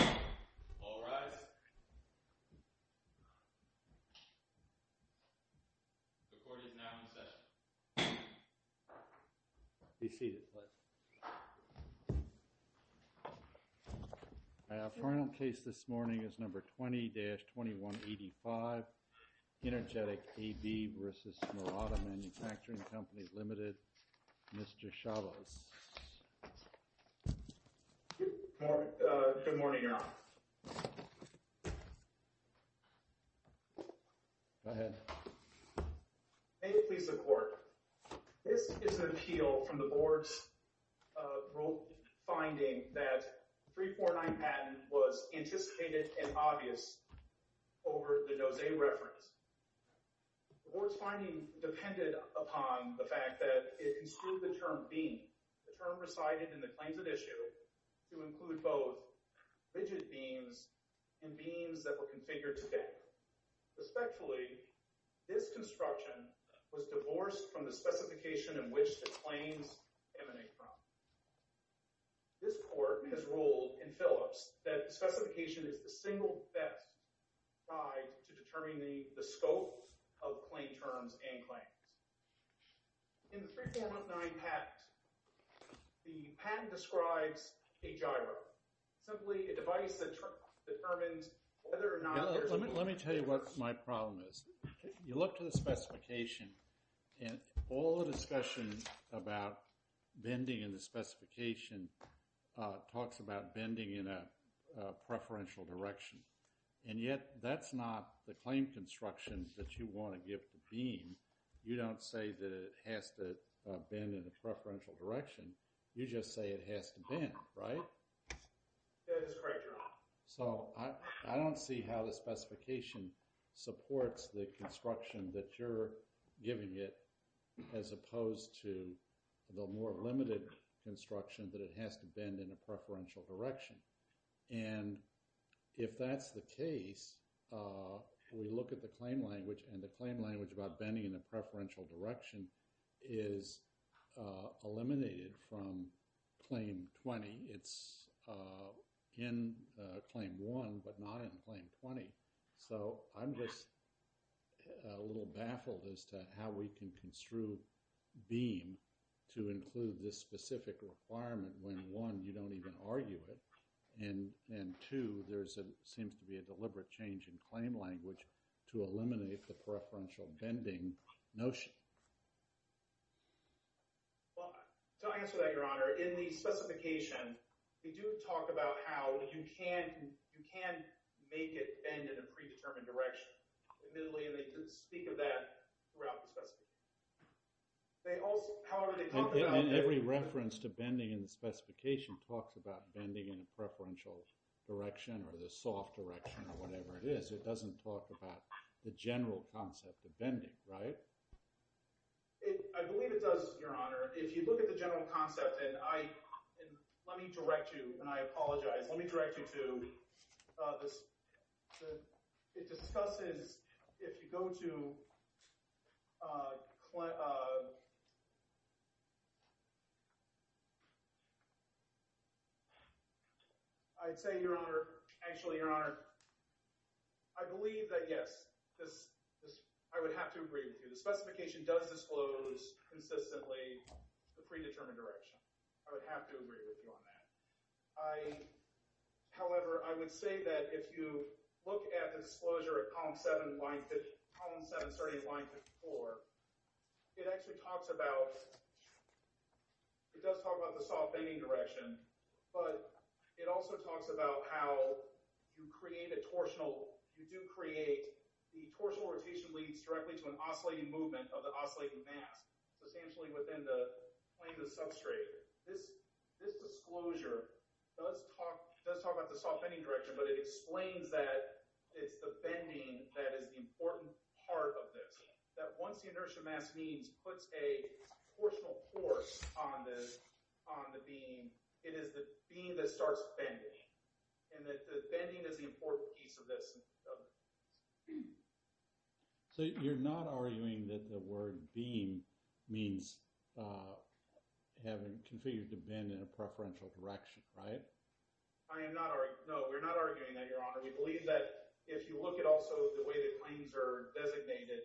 Mr. Chavez. The court is now in session. The final case this morning is number 20-2185, Inergetic AB v. Murata Manufacturing Co., Ltd. Mr. Chavez. Good morning, Your Honor. Go ahead. May it please the Court. This is an appeal from the Board's finding that 349 Patton was anticipated and obvious over the Dozee reference. The Board's finding depended upon the fact that it construed the term beam, a term recited in the claims at issue, to include both rigid beams and beams that were configured to deck. Suspectfully, this construction was divorced from the specification in which the claims emanate from. This Court has ruled in Phillips that the specification is the single best guide to the scope of claim terms and claims. In the 3419 Patton, the patent describes a gyro, simply a device that determines whether or not there's a... Let me tell you what my problem is. You look to the specification and all the discussion about bending in the specification talks about bending in a preferential direction, and yet that's not the claim construction that you want to give the beam. You don't say that it has to bend in a preferential direction, you just say it has to bend, right? So I don't see how the specification supports the construction that you're giving it as opposed to the more limited construction that it has to bend in a preferential direction. And if that's the case, we look at the claim language and the claim language about bending in a preferential direction is eliminated from Claim 20. It's in Claim 1, but not in Claim 20. So I'm just a little baffled as to how we can construe beam to include this specific requirement when, one, you don't even argue it, and, two, there seems to be a deliberate change in claim language to eliminate the preferential bending notion. Well, to answer that, Your Honor, in the specification, we do talk about how you can make it bend in a predetermined direction, admittedly, and they do speak of that throughout the specification. They also, however, they talk about— And every reference to bending in the specification talks about bending in a preferential direction or the soft direction or whatever it is. It doesn't talk about the general concept of bending, right? I believe it does, Your Honor. If you look at the general concept, and let me direct you, and I apologize, let me direct you to—it discusses, if you go to—I'd say, Your Honor, actually, Your Honor, I believe that, yes, I would have to agree with you. The specification does disclose consistently the predetermined direction. I would have to agree with you on that. However, I would say that if you look at the disclosure at column 7, starting at line 54, it actually talks about—it does talk about the soft bending direction, but it also talks about how you create a torsional—you do create—the torsional rotation leads directly to an oscillating movement of the oscillating mass, substantially within the plane of the substrate. This disclosure does talk about the soft bending direction, but it explains that it's the bending that is the important part of this, that once the inertia mass means puts a torsional force on the beam, it is the beam that starts bending, and that the bending is the important piece of this. So, you're not arguing that the word beam means having configured the bend in a preferential direction, right? I am not—no, we're not arguing that, Your Honor. We believe that if you look at also the way the claims are designated,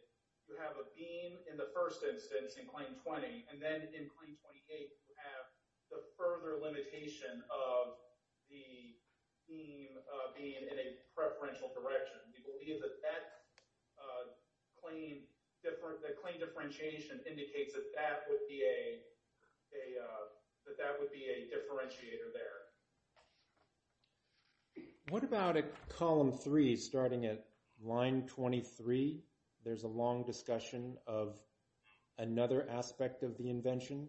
you have a beam in the first instance in claim 20, and then in claim 28, you have the further limitation of the beam being in a preferential direction. We believe that that claim differentiation indicates that that would be a differentiator there. What about at column 3, starting at line 23? There's a long discussion of another aspect of the invention,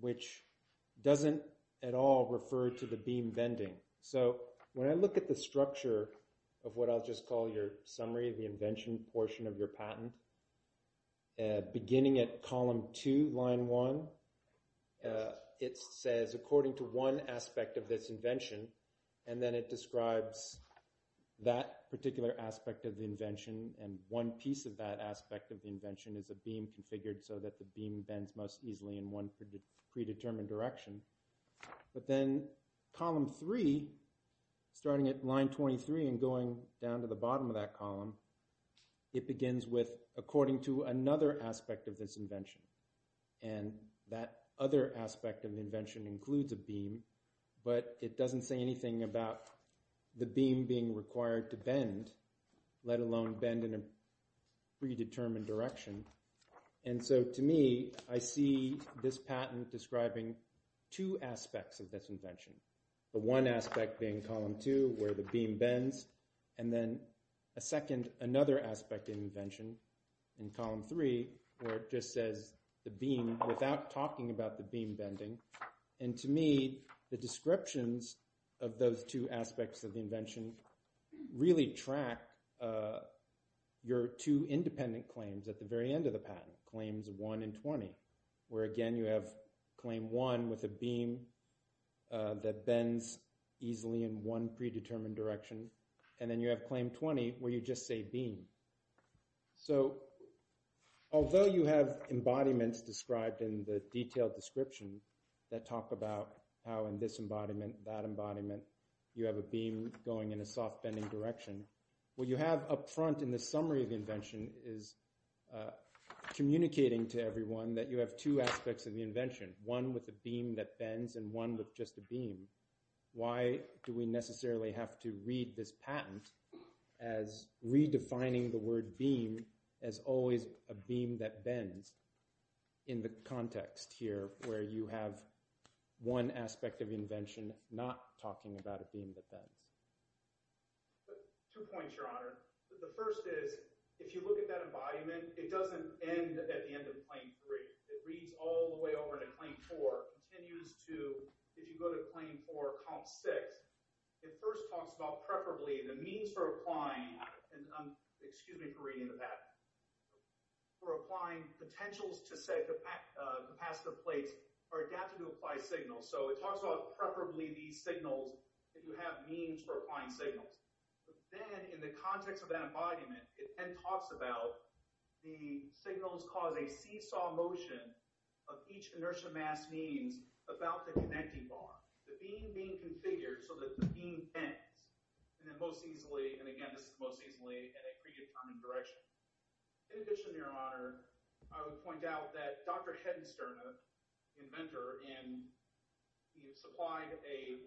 which doesn't at all refer to the beam bending. So, when I look at the structure of what I'll just call your summary of the invention portion of your patent, beginning at column 2, line 1, it says, according to one aspect of this invention, and then it describes that particular aspect of the invention, and one piece of that aspect of the invention is a beam configured so that the beam bends most easily in one predetermined direction. But then column 3, starting at line 23 and going down to the bottom of that column, it begins with, according to another aspect of this invention, and that other aspect of the invention includes a beam, but it doesn't say anything about the beam being required to bend, let alone bend in a predetermined direction. And so, to me, I see this patent describing two aspects of this invention, the one aspect being column 2, where the beam bends, and then a second, another aspect of the invention in column 3, where it just says the beam, without talking about the beam bending, and to me, the descriptions of those two aspects of the invention really track your two independent claims at the very end of the patent, claims 1 and 20, where, again, you have claim 1 with a beam that bends easily in one predetermined direction, and then you have claim 20, where you just say beam. So although you have embodiments described in the detailed description that talk about how in this embodiment, that embodiment, you have a beam going in a soft bending direction, what you have up front in the summary of the invention is communicating to everyone that you have two aspects of the invention, one with a beam that bends, and one with just a beam. Why do we necessarily have to read this patent as redefining the word beam as always a beam that bends in the context here, where you have one aspect of the invention not talking about a beam that bends? Two points, Your Honor. The first is, if you look at that embodiment, it doesn't end at the end of claim 3. It reads all the way over to claim 4, continues to, if you go to claim 4, comp 6, it first talks about preferably the means for applying, excuse me for reading the patent, for applying potentials to set capacitive plates are adapted to apply signals. So it talks about preferably these signals that you have means for applying signals. Then in the context of that embodiment, it then talks about the signals cause a seesaw motion of each inertia mass means about the connecting bar, the beam being configured so that the beam bends. And then most easily, and again, this is most easily at a predetermined direction. In addition, Your Honor, I would point out that Dr. Heddenstern, the inventor, supplied a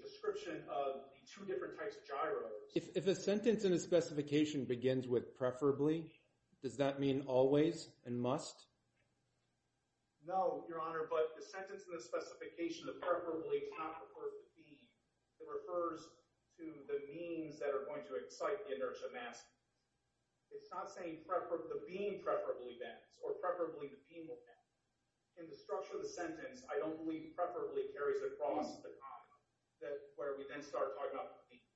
description of the two different types of gyros. If a sentence in a specification begins with preferably, does that mean always and must? No, Your Honor, but the sentence in the specification of preferably does not refer to the beam. It refers to the means that are going to excite the inertia mass. It's not saying the beam preferably bends or preferably the beam will bend. In the structure of the sentence, I don't believe preferably carries across the comment where we then start talking about the beam.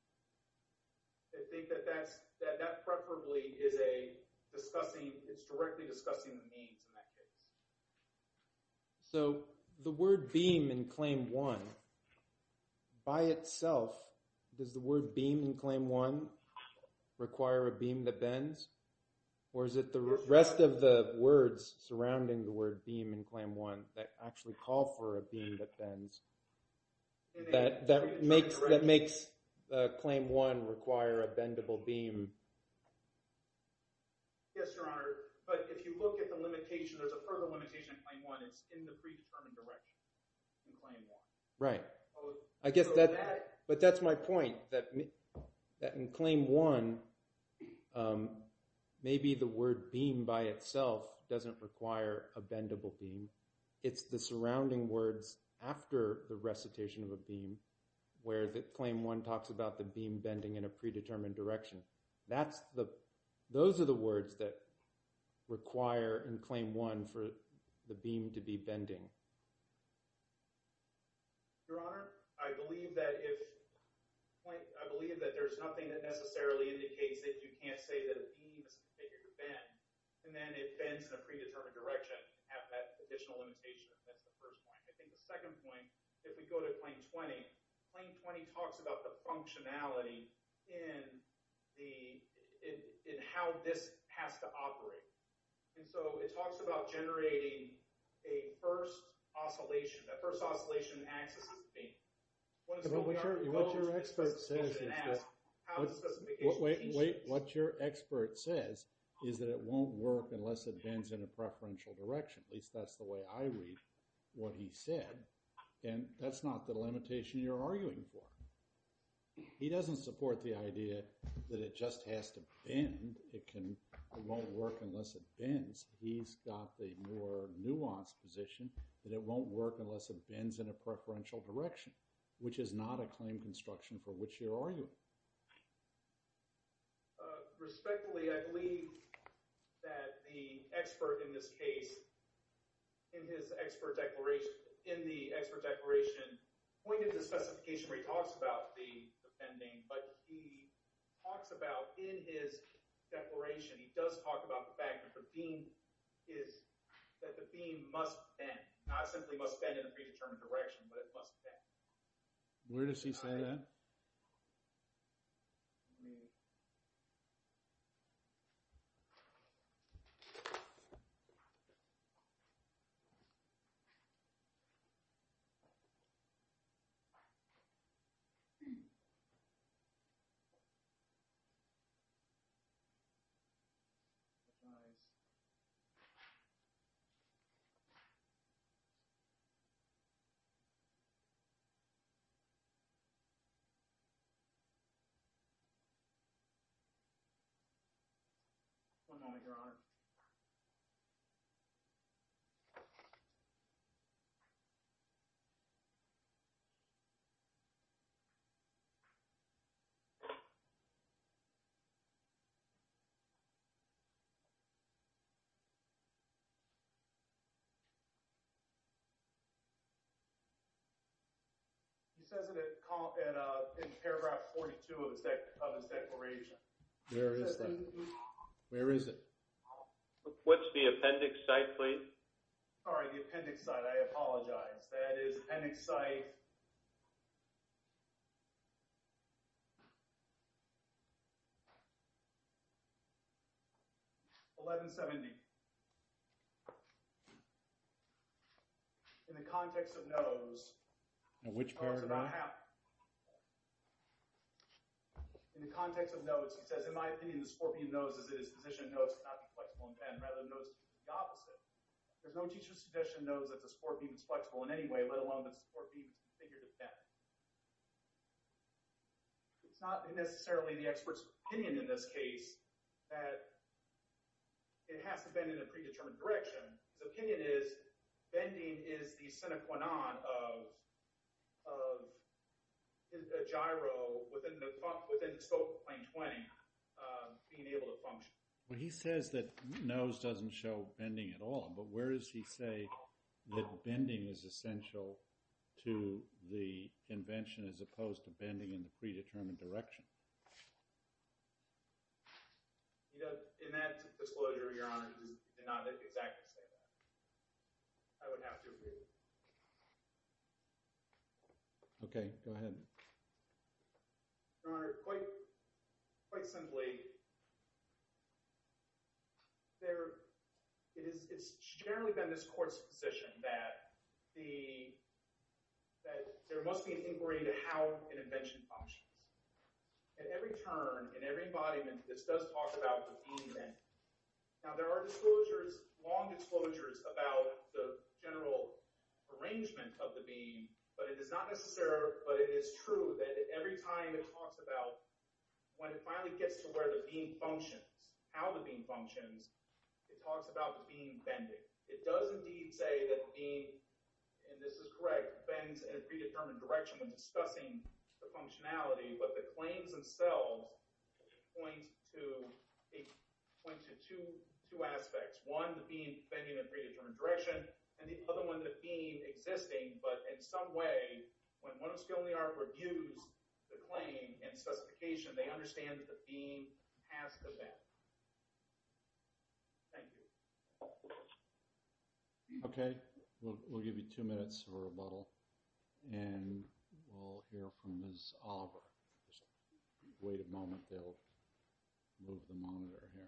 I think that that preferably is a discussing, it's directly discussing the means in that case. So the word beam in Claim 1, by itself, does the word beam in Claim 1 require a beam that bends? Or is it the rest of the words surrounding the word beam in Claim 1 that actually call for a beam that bends, that makes Claim 1 require a bendable beam? Yes, Your Honor. But if you look at the limitation, there's a further limitation in Claim 1. It's in the predetermined direction in Claim 1. Right. I guess that, but that's my point, that in Claim 1, maybe the word beam by itself doesn't require a bendable beam. It's the surrounding words after the recitation of a beam where Claim 1 talks about the beam bending in a predetermined direction. That's the, those are the words that require in Claim 1 for the beam to be bending. Your Honor, I believe that if, I believe that there's nothing that necessarily indicates that you can't say that a beam is configured to bend, and then it bends in a predetermined direction and have that additional limitation. That's the first point. I think the second point, if we go to Claim 20, Claim 20 talks about the functionality in the, in how this has to operate. And so it talks about generating a first oscillation, a first oscillation in axis of the beam. One of the things we are told is this is supposed to ask, how does the specification change? Wait, wait, what your expert says is that it won't work unless it bends in a preferential direction. At least that's the way I read what he said. And that's not the limitation you're arguing for. He doesn't support the idea that it just has to bend. It can, it won't work unless it bends. He's got the more nuanced position that it won't work unless it bends in a preferential direction, which is not a claim construction for which you're arguing. Respectfully, I believe that the expert in this case, in his expert declaration, in the expert declaration pointed to specification where he talks about the bending, but he talks about in his declaration, he does talk about the fact that the beam is, that the beam must bend. Not simply must bend in a predetermined direction, but it must bend. Where does he say that? He says it in paragraph 42 of his declaration. Where is that? Where is it? What's the appendix site, please? Sorry, the appendix site. I apologize. That is appendix site 1170. In the context of no's, it does not happen. In the context of no's, he says, in my opinion, the sport being no's is it is position no's to not be flexible and bend, rather than no's to do the opposite. There's no teacher's position no's that the sport beam is flexible in any way, let alone that the sport beam is configured to bend. It's not necessarily the expert's opinion in this case that it has to bend in a predetermined direction. His opinion is bending is the sine qua non of a gyro within the scope of plane 20 being able to function. Well, he says that no's doesn't show bending at all. But where does he say that bending is essential to the invention as opposed to bending in the predetermined direction? In that disclosure, Your Honor, he did not exactly say that. I would have to agree. OK, go ahead. Your Honor, quite simply, it's generally been this court's position that there must be an inquiry into how an invention functions. At every turn, in every embodiment, this does talk about the beam bend. Now, there are long disclosures about the general arrangement of the beam. But it is true that every time it talks about when it finally gets to where the beam functions, how the beam functions, it talks about the beam bending. It does indeed say that the beam, and this is correct, bends in a predetermined direction when discussing the functionality. But the claims themselves point to two aspects. One, the beam bending in a predetermined direction. And the other one, the beam existing. But in some way, when one of the skill and the art reviews the claim and specification, they understand that the beam has to bend. Thank you. OK, we'll give you two minutes for rebuttal. And we'll hear from Ms. Oliver. Wait a moment. They'll move the monitor here.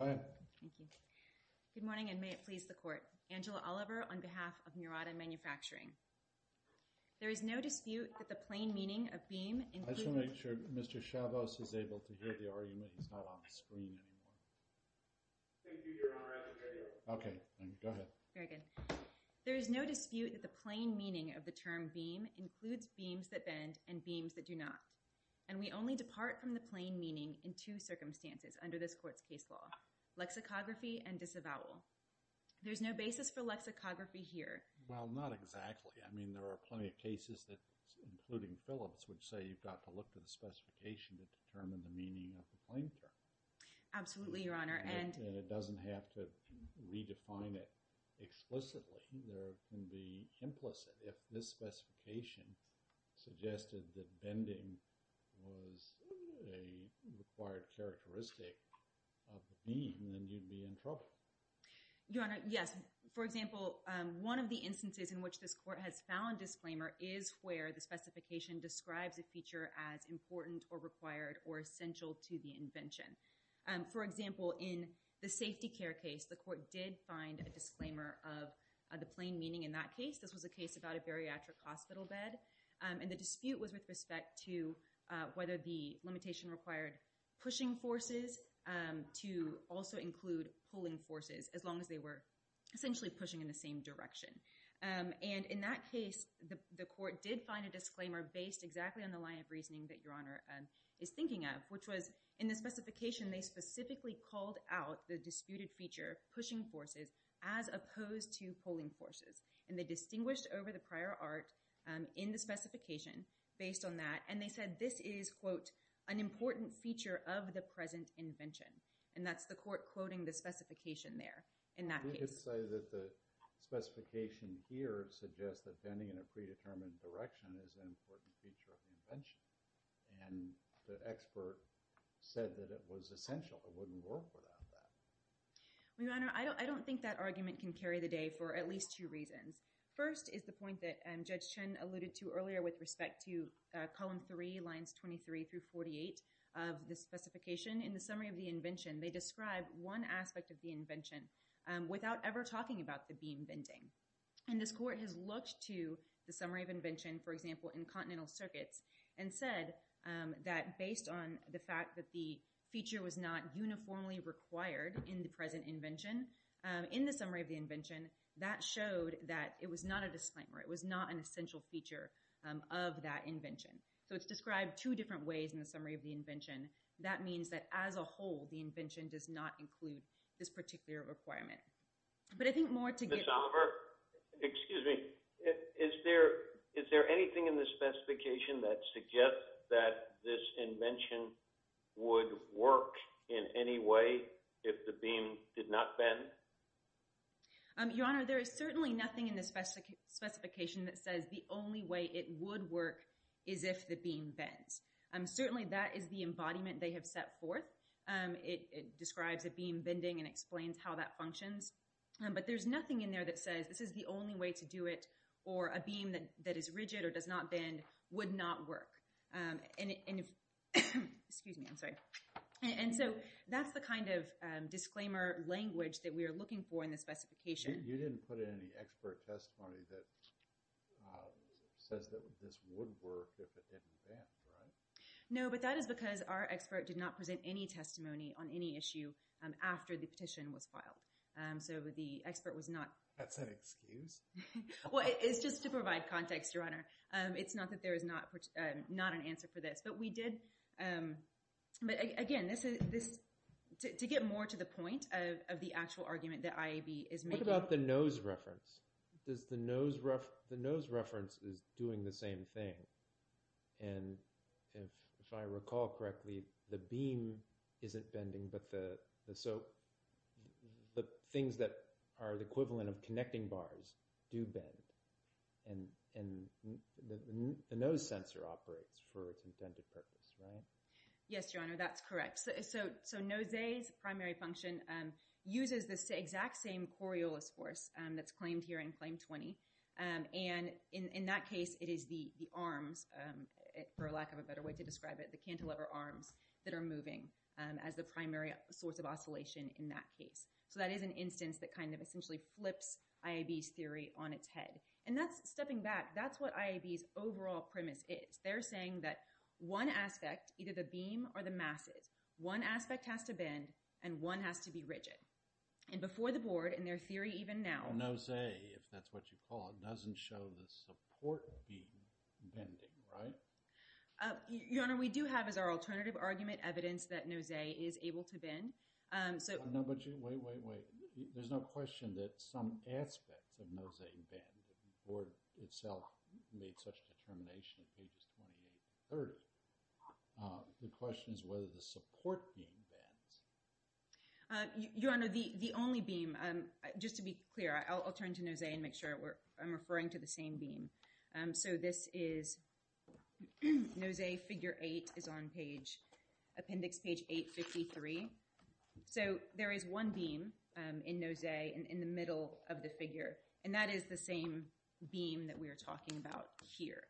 Hi. Thank you. Good morning, and may it please the court. Angela Oliver on behalf of Murata Manufacturing. There is no dispute that the plain meaning of beam includes- I just want to make sure Mr. Chavos is able to hear the argument. He's not on the screen anymore. Thank you, Your Honor, I can hear you. OK, thank you. Go ahead. Very good. There is no dispute that the plain meaning of the term beam includes beams that bend and beams that do not. And we only depart from the plain meaning in two circumstances under this court's case law, lexicography and disavowal. There's no basis for lexicography here. Well, not exactly. I mean, there are plenty of cases that, including Phillips, would say you've got to look to the specification to determine the meaning of the plain term. Absolutely, Your Honor, and- It doesn't have to redefine it explicitly. There can be implicit. If this specification suggested that bending was a required characteristic of the beam, then you'd be in trouble. Your Honor, yes. For example, one of the instances in which this court has found disclaimer is where the specification describes a feature as important or required or essential to the invention. For example, in the safety care case, the court did find a disclaimer of the plain meaning in that case. This was a case about a bariatric hospital bed. And the dispute was with respect to whether the limitation required pushing forces to also include pulling forces, as long as they were essentially pushing in the same direction. And in that case, the court did find a disclaimer based exactly on the line of reasoning that Your Honor is thinking of, in the specification, they specifically called out the disputed feature, pushing forces, as opposed to pulling forces. And they distinguished over the prior art in the specification based on that. And they said this is, quote, an important feature of the present invention. And that's the court quoting the specification there in that case. Did it say that the specification here suggests that bending in a predetermined direction is an important feature of the invention? And the expert said that it was essential. It wouldn't work without that. Well, Your Honor, I don't think that argument can carry the day for at least two reasons. First is the point that Judge Chen alluded to earlier with respect to column three, lines 23 through 48 of the specification. In the summary of the invention, they describe one aspect of the invention without ever talking about the beam bending. And this court has looked to the summary of invention, for example, in continental circuits, and said that based on the fact that the feature was not uniformly required in the present invention, in the summary of the invention, that showed that it was not a disclaimer. It was not an essential feature of that invention. So it's described two different ways in the summary of the invention. That means that as a whole, the invention does not include this particular requirement. But I think more to get— Ms. Oliver, excuse me. Is there anything in the specification that suggests that this invention would work in any way if the beam did not bend? Your Honor, there is certainly nothing in the specification that says the only way it would work is if the beam bends. Certainly that is the embodiment they have set forth. It describes a beam bending and explains how that functions. But there's nothing in there that says this is the only way to do it or a beam that is rigid or does not bend would not work. And if—excuse me, I'm sorry. And so that's the kind of disclaimer language that we are looking for in the specification. You didn't put in any expert testimony that says that this would work if it didn't bend, right? No, but that is because our expert did not present any testimony on any issue after the petition was filed. So the expert was not— That's an excuse? Well, it's just to provide context, Your Honor. It's not that there is not an answer for this. But we did—but again, this—to get more to the point of the actual argument that IAB is making— What about the nose reference? Does the nose—the nose reference is doing the same thing. And if I recall correctly, the beam isn't bending, but the—so the things that are the equivalent of connecting bars do bend. And the nose sensor operates for its intended purpose, right? Yes, Your Honor, that's correct. So nose A's primary function uses this exact same Coriolis force that's claimed here in Claim 20. And in that case, it is the arms, for lack of a better way to describe it, the cantilever arms that are moving as the primary source of oscillation in that case. So that is an instance that kind of essentially flips IAB's theory on its head. And that's—stepping back, that's what IAB's overall premise is. They're saying that one aspect, either the beam or the masses, one aspect has to bend and one has to be rigid. And before the board, in their theory even now— Nose A, if that's what you call it, doesn't show the support beam bending, right? Your Honor, we do have as our alternative argument evidence that nose A is able to bend. So— No, but wait, wait, wait. There's no question that some aspects of nose A bend. The board itself made such determination on pages 28 and 30. The question is whether the support beam bends. Your Honor, the only beam—just to be clear, I'll turn to nose A and make sure I'm referring to the same beam. So this is—nose A figure 8 is on page—appendix page 853. So there is one beam in nose A in the middle of the figure. And that is the same beam that we are talking about here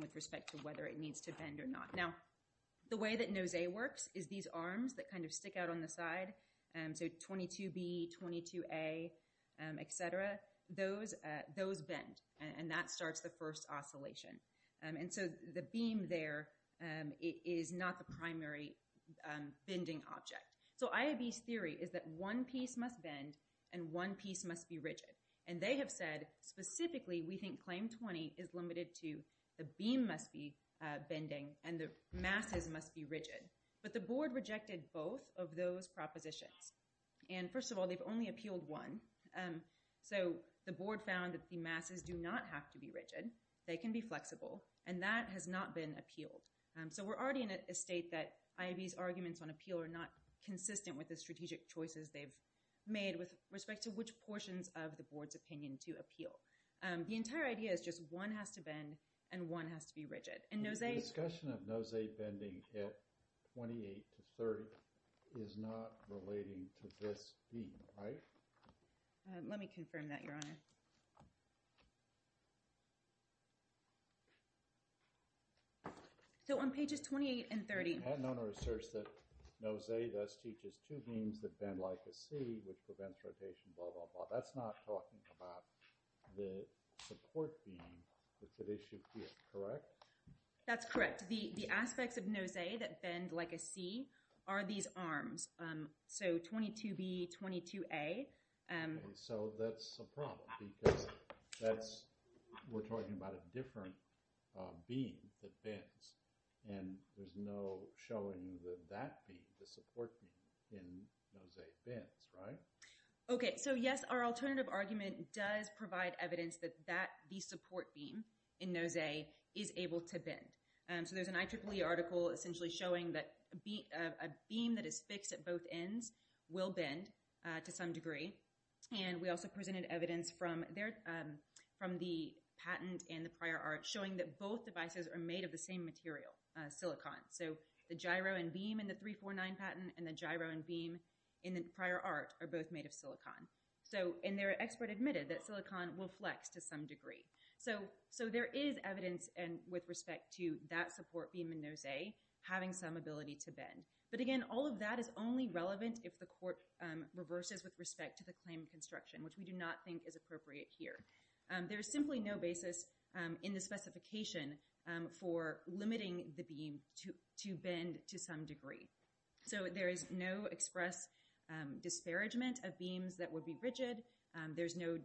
with respect to whether it needs to bend or not. Now, the way that nose A works is these arms that kind of stick out on the side, so 22B, 22A, et cetera, those bend. And that starts the first oscillation. And so the beam there is not the primary bending object. So IAB's theory is that one piece must bend and one piece must be rigid. And they have said specifically we think claim 20 is limited to the beam must be bending and the masses must be rigid. But the board rejected both of those propositions. And first of all, they've only appealed one. So the board found that the masses do not have to be rigid. They can be flexible. And that has not been appealed. So we're already in a state that IAB's arguments on appeal are not consistent with the strategic choices they've made with respect to which portions of the board's opinion to appeal. The entire idea is just one has to bend and one has to be rigid. And nose A— The discussion of nose A bending at 28 to 30 is not relating to this beam, right? Let me confirm that, Your Honor. So on pages 28 and 30— I had known or researched that nose A thus teaches two beams that bend like a C, which prevents rotation, blah, blah, blah. That's not talking about the support beam that's at issue here, correct? That's correct. The aspects of nose A that bend like a C are these arms. So 22B, 22A. So that's a problem because that's— we're talking about a different beam that bends. And there's no showing that that beam, the support beam in nose A, bends, right? Okay, so yes, our alternative argument does provide evidence that the support beam in nose A is able to bend. So there's an IEEE article essentially showing that a beam that is fixed at both ends will bend to some degree. And we also presented evidence from the patent and the prior art showing that both devices are made of the same material, silicon. So the gyro and beam in the 349 patent and the gyro and beam in the prior art are both made of silicon. So— and their expert admitted that silicon will flex to some degree. So there is evidence with respect to that support beam in nose A having some ability to bend. But again, all of that is only relevant if the court reverses with respect to the claim of construction, which we do not think is appropriate here. There is simply no basis in the specification for limiting the beam to bend to some degree. So there is no express disparagement of beams that would be rigid. There's no,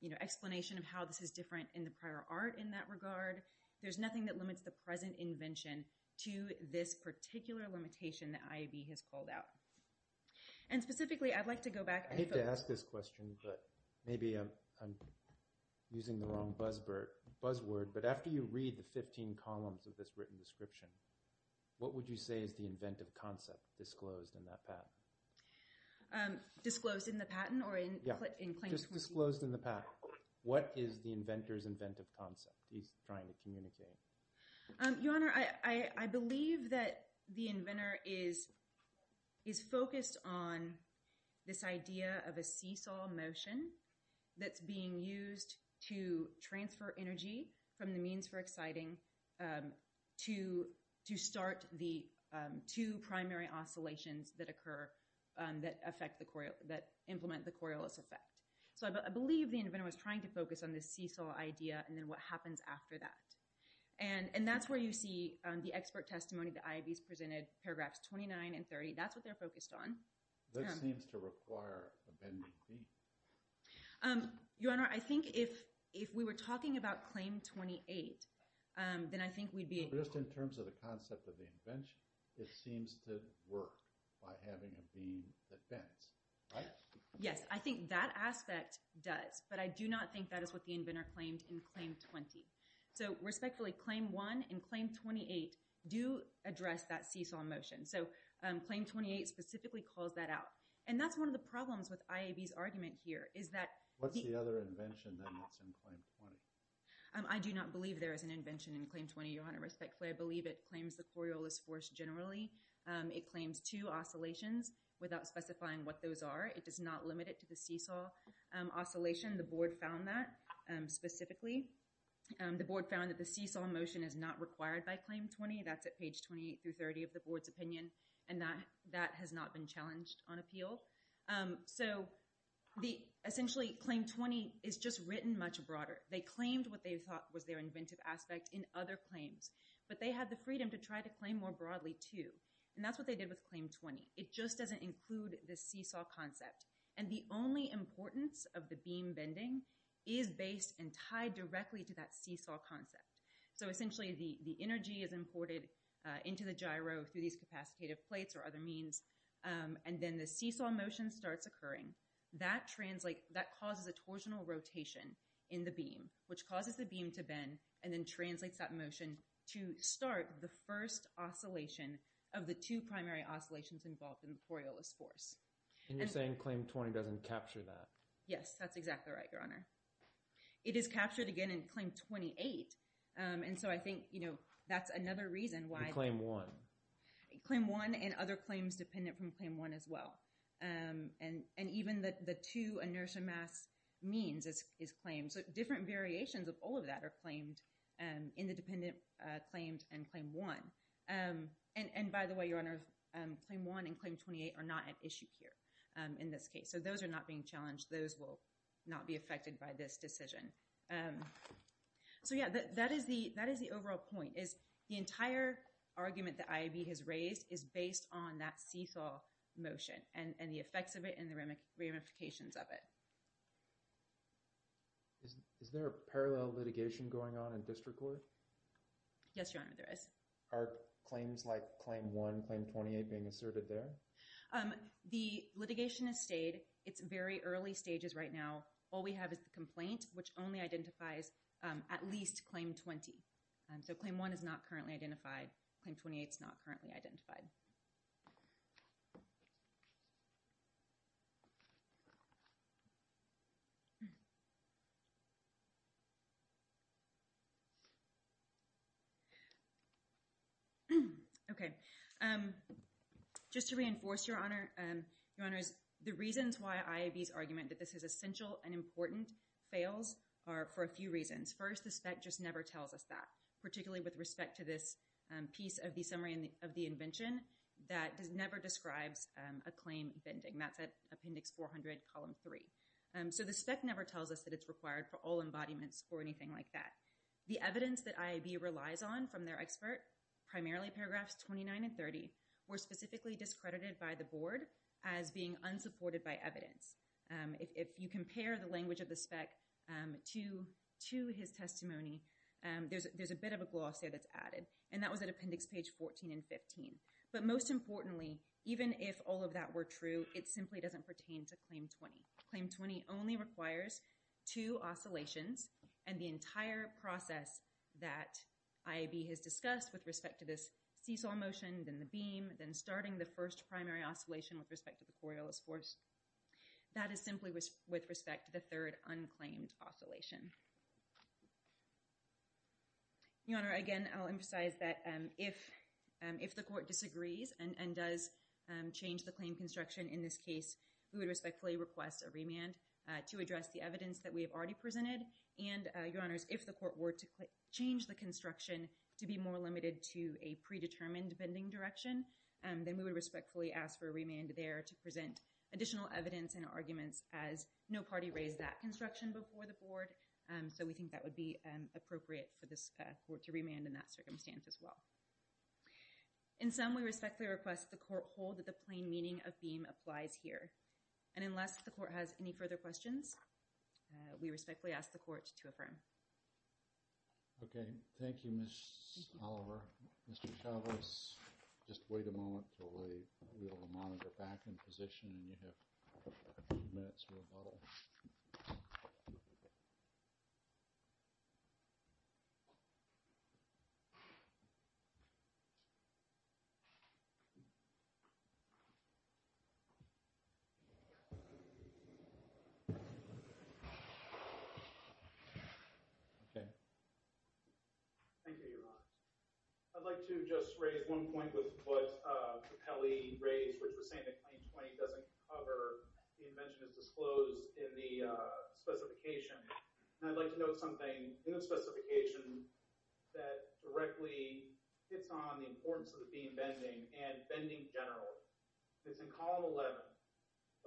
you know, explanation of how this is different in the prior art in that regard. There's nothing that limits the present invention to this particular limitation that IEEE has called out. And specifically, I'd like to go back— I hate to ask this question, but maybe I'm using the wrong buzzword. But after you read the 15 columns of this written description, what would you say is the inventive concept disclosed in that patent? Disclosed in the patent or in— Yeah, just disclosed in the patent. What is the inventor's inventive concept? He's trying to communicate. Your Honor, I believe that the inventor is focused on this idea of a seesaw motion that's being used to transfer energy from the means for exciting to start the two primary oscillations that occur, that affect the— that implement the Coriolis effect. So I believe the inventor was trying to focus on this seesaw idea and then what happens after that. And that's where you see the expert testimony that IEEE's presented, paragraphs 29 and 30. That's what they're focused on. This seems to require a bending beam. Your Honor, I think if we were talking about Claim 28, then I think we'd be— Just in terms of the concept of the invention, it seems to work by having a beam that bends, right? Yes, I think that aspect does. But I do not think that is what the inventor claimed in Claim 20. So respectfully, Claim 1 and Claim 28 do address that seesaw motion. So Claim 28 specifically calls that out. And that's one of the problems with IAB's argument here is that— What's the other invention that's in Claim 20? I do not believe there is an invention in Claim 20, Your Honor. Respectfully, I believe it claims the Coriolis force generally. It claims two oscillations without specifying what those are. It does not limit it to the seesaw oscillation. The Board found that specifically. The Board found that the seesaw motion is not required by Claim 20. That's at page 28 through 30 of the Board's opinion. And that has not been challenged on appeal. So essentially, Claim 20 is just written much broader. They claimed what they thought was their inventive aspect in other claims. But they had the freedom to try to claim more broadly, too. And that's what they did with Claim 20. It just doesn't include the seesaw concept. And the only importance of the beam bending is based and tied directly to that seesaw concept. So essentially, the energy is imported into the gyro through these capacitative plates or other means. And then the seesaw motion starts occurring. That causes a torsional rotation in the beam, which causes the beam to bend and then translates that motion to start the first oscillation of the two primary oscillations involved in the Coriolis force. And you're saying Claim 20 doesn't capture that. Yes, that's exactly right, Your Honor. It is captured again in Claim 28. And so I think that's another reason why— In Claim 1. Claim 1 and other claims dependent from Claim 1 as well. And even the two inertia mass means is claimed. So different variations of all of that are claimed in the dependent claimed and Claim 1. And by the way, Your Honor, Claim 1 and Claim 28 are not at issue here in this case. So those are not being challenged. Those will not be affected by this decision. So yeah, that is the overall point, is the entire argument that IAB has raised is based on that seesaw motion and the effects of it and the ramifications of it. Is there a parallel litigation going on in district court? Yes, Your Honor, there is. Are claims like Claim 1, Claim 28 being asserted there? The litigation has stayed. It's very early stages right now. All we have is the complaint, which only identifies at least Claim 20. And so Claim 1 is not currently identified. Claim 28 is not currently identified. Okay, just to reinforce, Your Honors, the reasons why IAB's argument that this is essential and important fails are for a few reasons. First, the spec just never tells us that, particularly with respect to this piece of the summary of the invention that never describes a claim vending. That's at Appendix 400, Column 3. So the spec never tells us that it's required for all embodiments or anything like that. The evidence that IAB relies on from their expert, primarily Paragraphs 29 and 30, were specifically discredited by the board as being unsupported by evidence. If you compare the language of the spec to his testimony, there's a bit of a gloss there that's added. And that was at Appendix Page 14 and 15. But most importantly, even if all of that were true, it simply doesn't pertain to Claim 20. Claim 20 only requires two oscillations and the entire process that IAB has discussed with respect to this seesaw motion, then the beam, then starting the first primary oscillation with respect to the Coriolis force. That is simply with respect to the third unclaimed oscillation. Your Honor, again, I'll emphasize that if the court disagrees and does change the claim construction in this case, we would respectfully request a remand to address the evidence that we have already presented. And Your Honors, if the court were to change the construction to be more limited to a predetermined bending direction, then we would respectfully ask for a remand there to present additional evidence and arguments as no party raised that construction before the board. So we think that would be appropriate for this court to remand in that circumstance as well. In sum, we respectfully request the court that the plain meaning of beam applies here. And unless the court has any further questions, we respectfully ask the court to affirm. Okay, thank you, Ms. Oliver. Mr. Chavez, just wait a moment till we will monitor back in position and you have a few minutes to rebuttal. Thank you, Your Honor. I'd like to just raise one point with what Kelly raised, which was saying that Claim 20 doesn't cover, the invention is disclosed in the specification. And I'd like to note something in the specification that directly hits on the importance of the beam bending we have a lot of information about the bending of the beam. We have a lot of information that's in column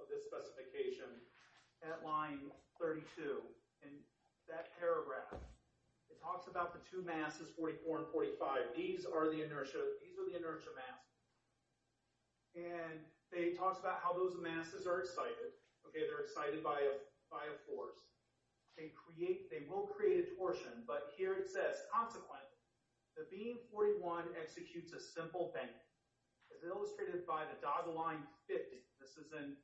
11 of this specification at line 32. And that paragraph, it talks about the two masses, 44 and 45. These are the inertia mass. And they talked about how those masses are excited. Okay, they're excited by a force. They will create a torsion, but here it says, consequent, the beam 41 executes a simple bend as illustrated by the dotted line 50. This is in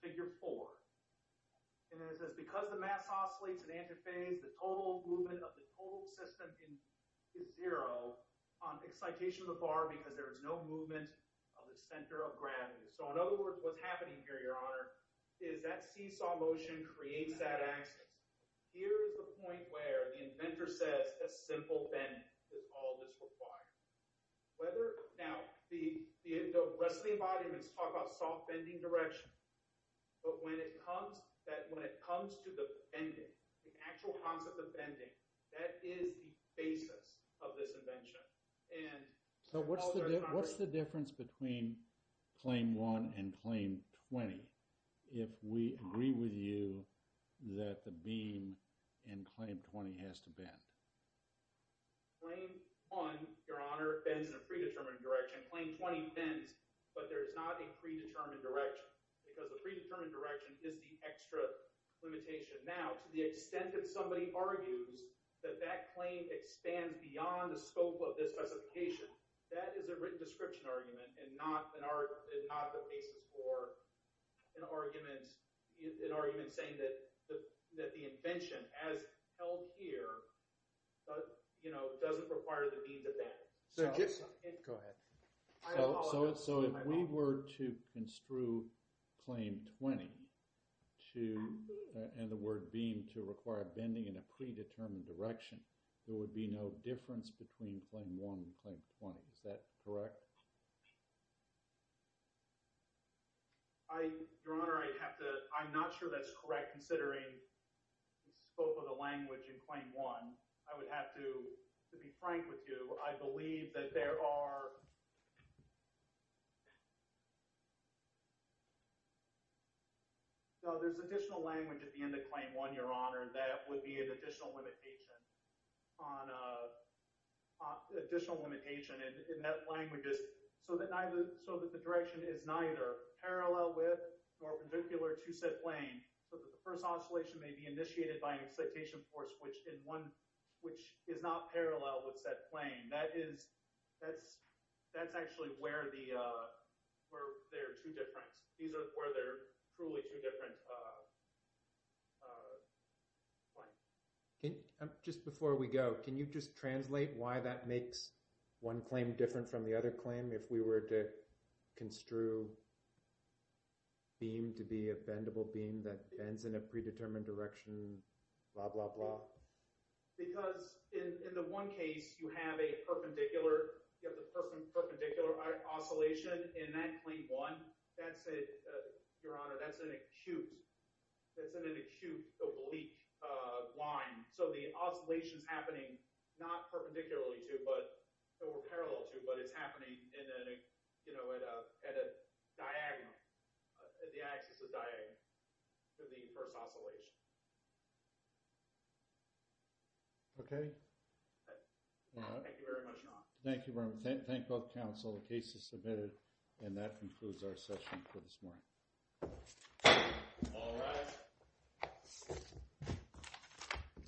figure four. And then it says, because the mass oscillates in antiphase, the total movement of the total system is zero on excitation of the bar because there is no movement of the center of gravity. So in other words, what's happening here, Your Honor, is that seesaw motion creates that axis. Here's the point where the inventor says a simple bend is all that's required. Whether, now, the rest of the embodiments talk about soft bending direction, but when it comes to the bending, the actual concept of bending, that is the basis of this invention. So what's the difference between claim one and claim 20 if we agree with you that the beam in claim 20 has to bend? Claim one, Your Honor, bends in a predetermined direction. Claim 20 bends, but there is not a predetermined direction because the predetermined direction is the extra limitation. Now, to the extent that somebody argues that that claim expands beyond the scope of this specification, that is a written description argument and not the basis for an argument saying that the invention, as held here, doesn't require the beam to bend. So if we were to construe claim 20 and the word beam to require bending in a predetermined direction, there would be no difference between claim one and claim 20. Is that correct? Your Honor, I'm not sure that's correct. Considering the scope of the language in claim one, I would have to be frank with you. I believe that there are... No, there's additional language at the end of claim one, Your Honor, that would be an additional limitation on additional limitation in that language so that the direction is neither parallel width nor perpendicular to said plane. The first oscillation may be initiated by an excitation force, which is not parallel with said plane. That's actually where they're too different. These are where they're truly too different. Just before we go, can you just translate why that makes one claim different from the other claim? If we were to construe beam to be a bendable beam that bends in a predetermined direction, blah, blah, blah? Because in the one case, you have the perpendicular oscillation in that claim one. Your Honor, that's an acute oblique line. So the oscillation is happening not perpendicularly to or parallel to, but it's happening at a diagonal. The axis is diagonal to the first oscillation. Okay. Thank you very much, Your Honor. Thank you very much. Thank both counsel. The case is submitted. And that concludes our session for this morning. All rise.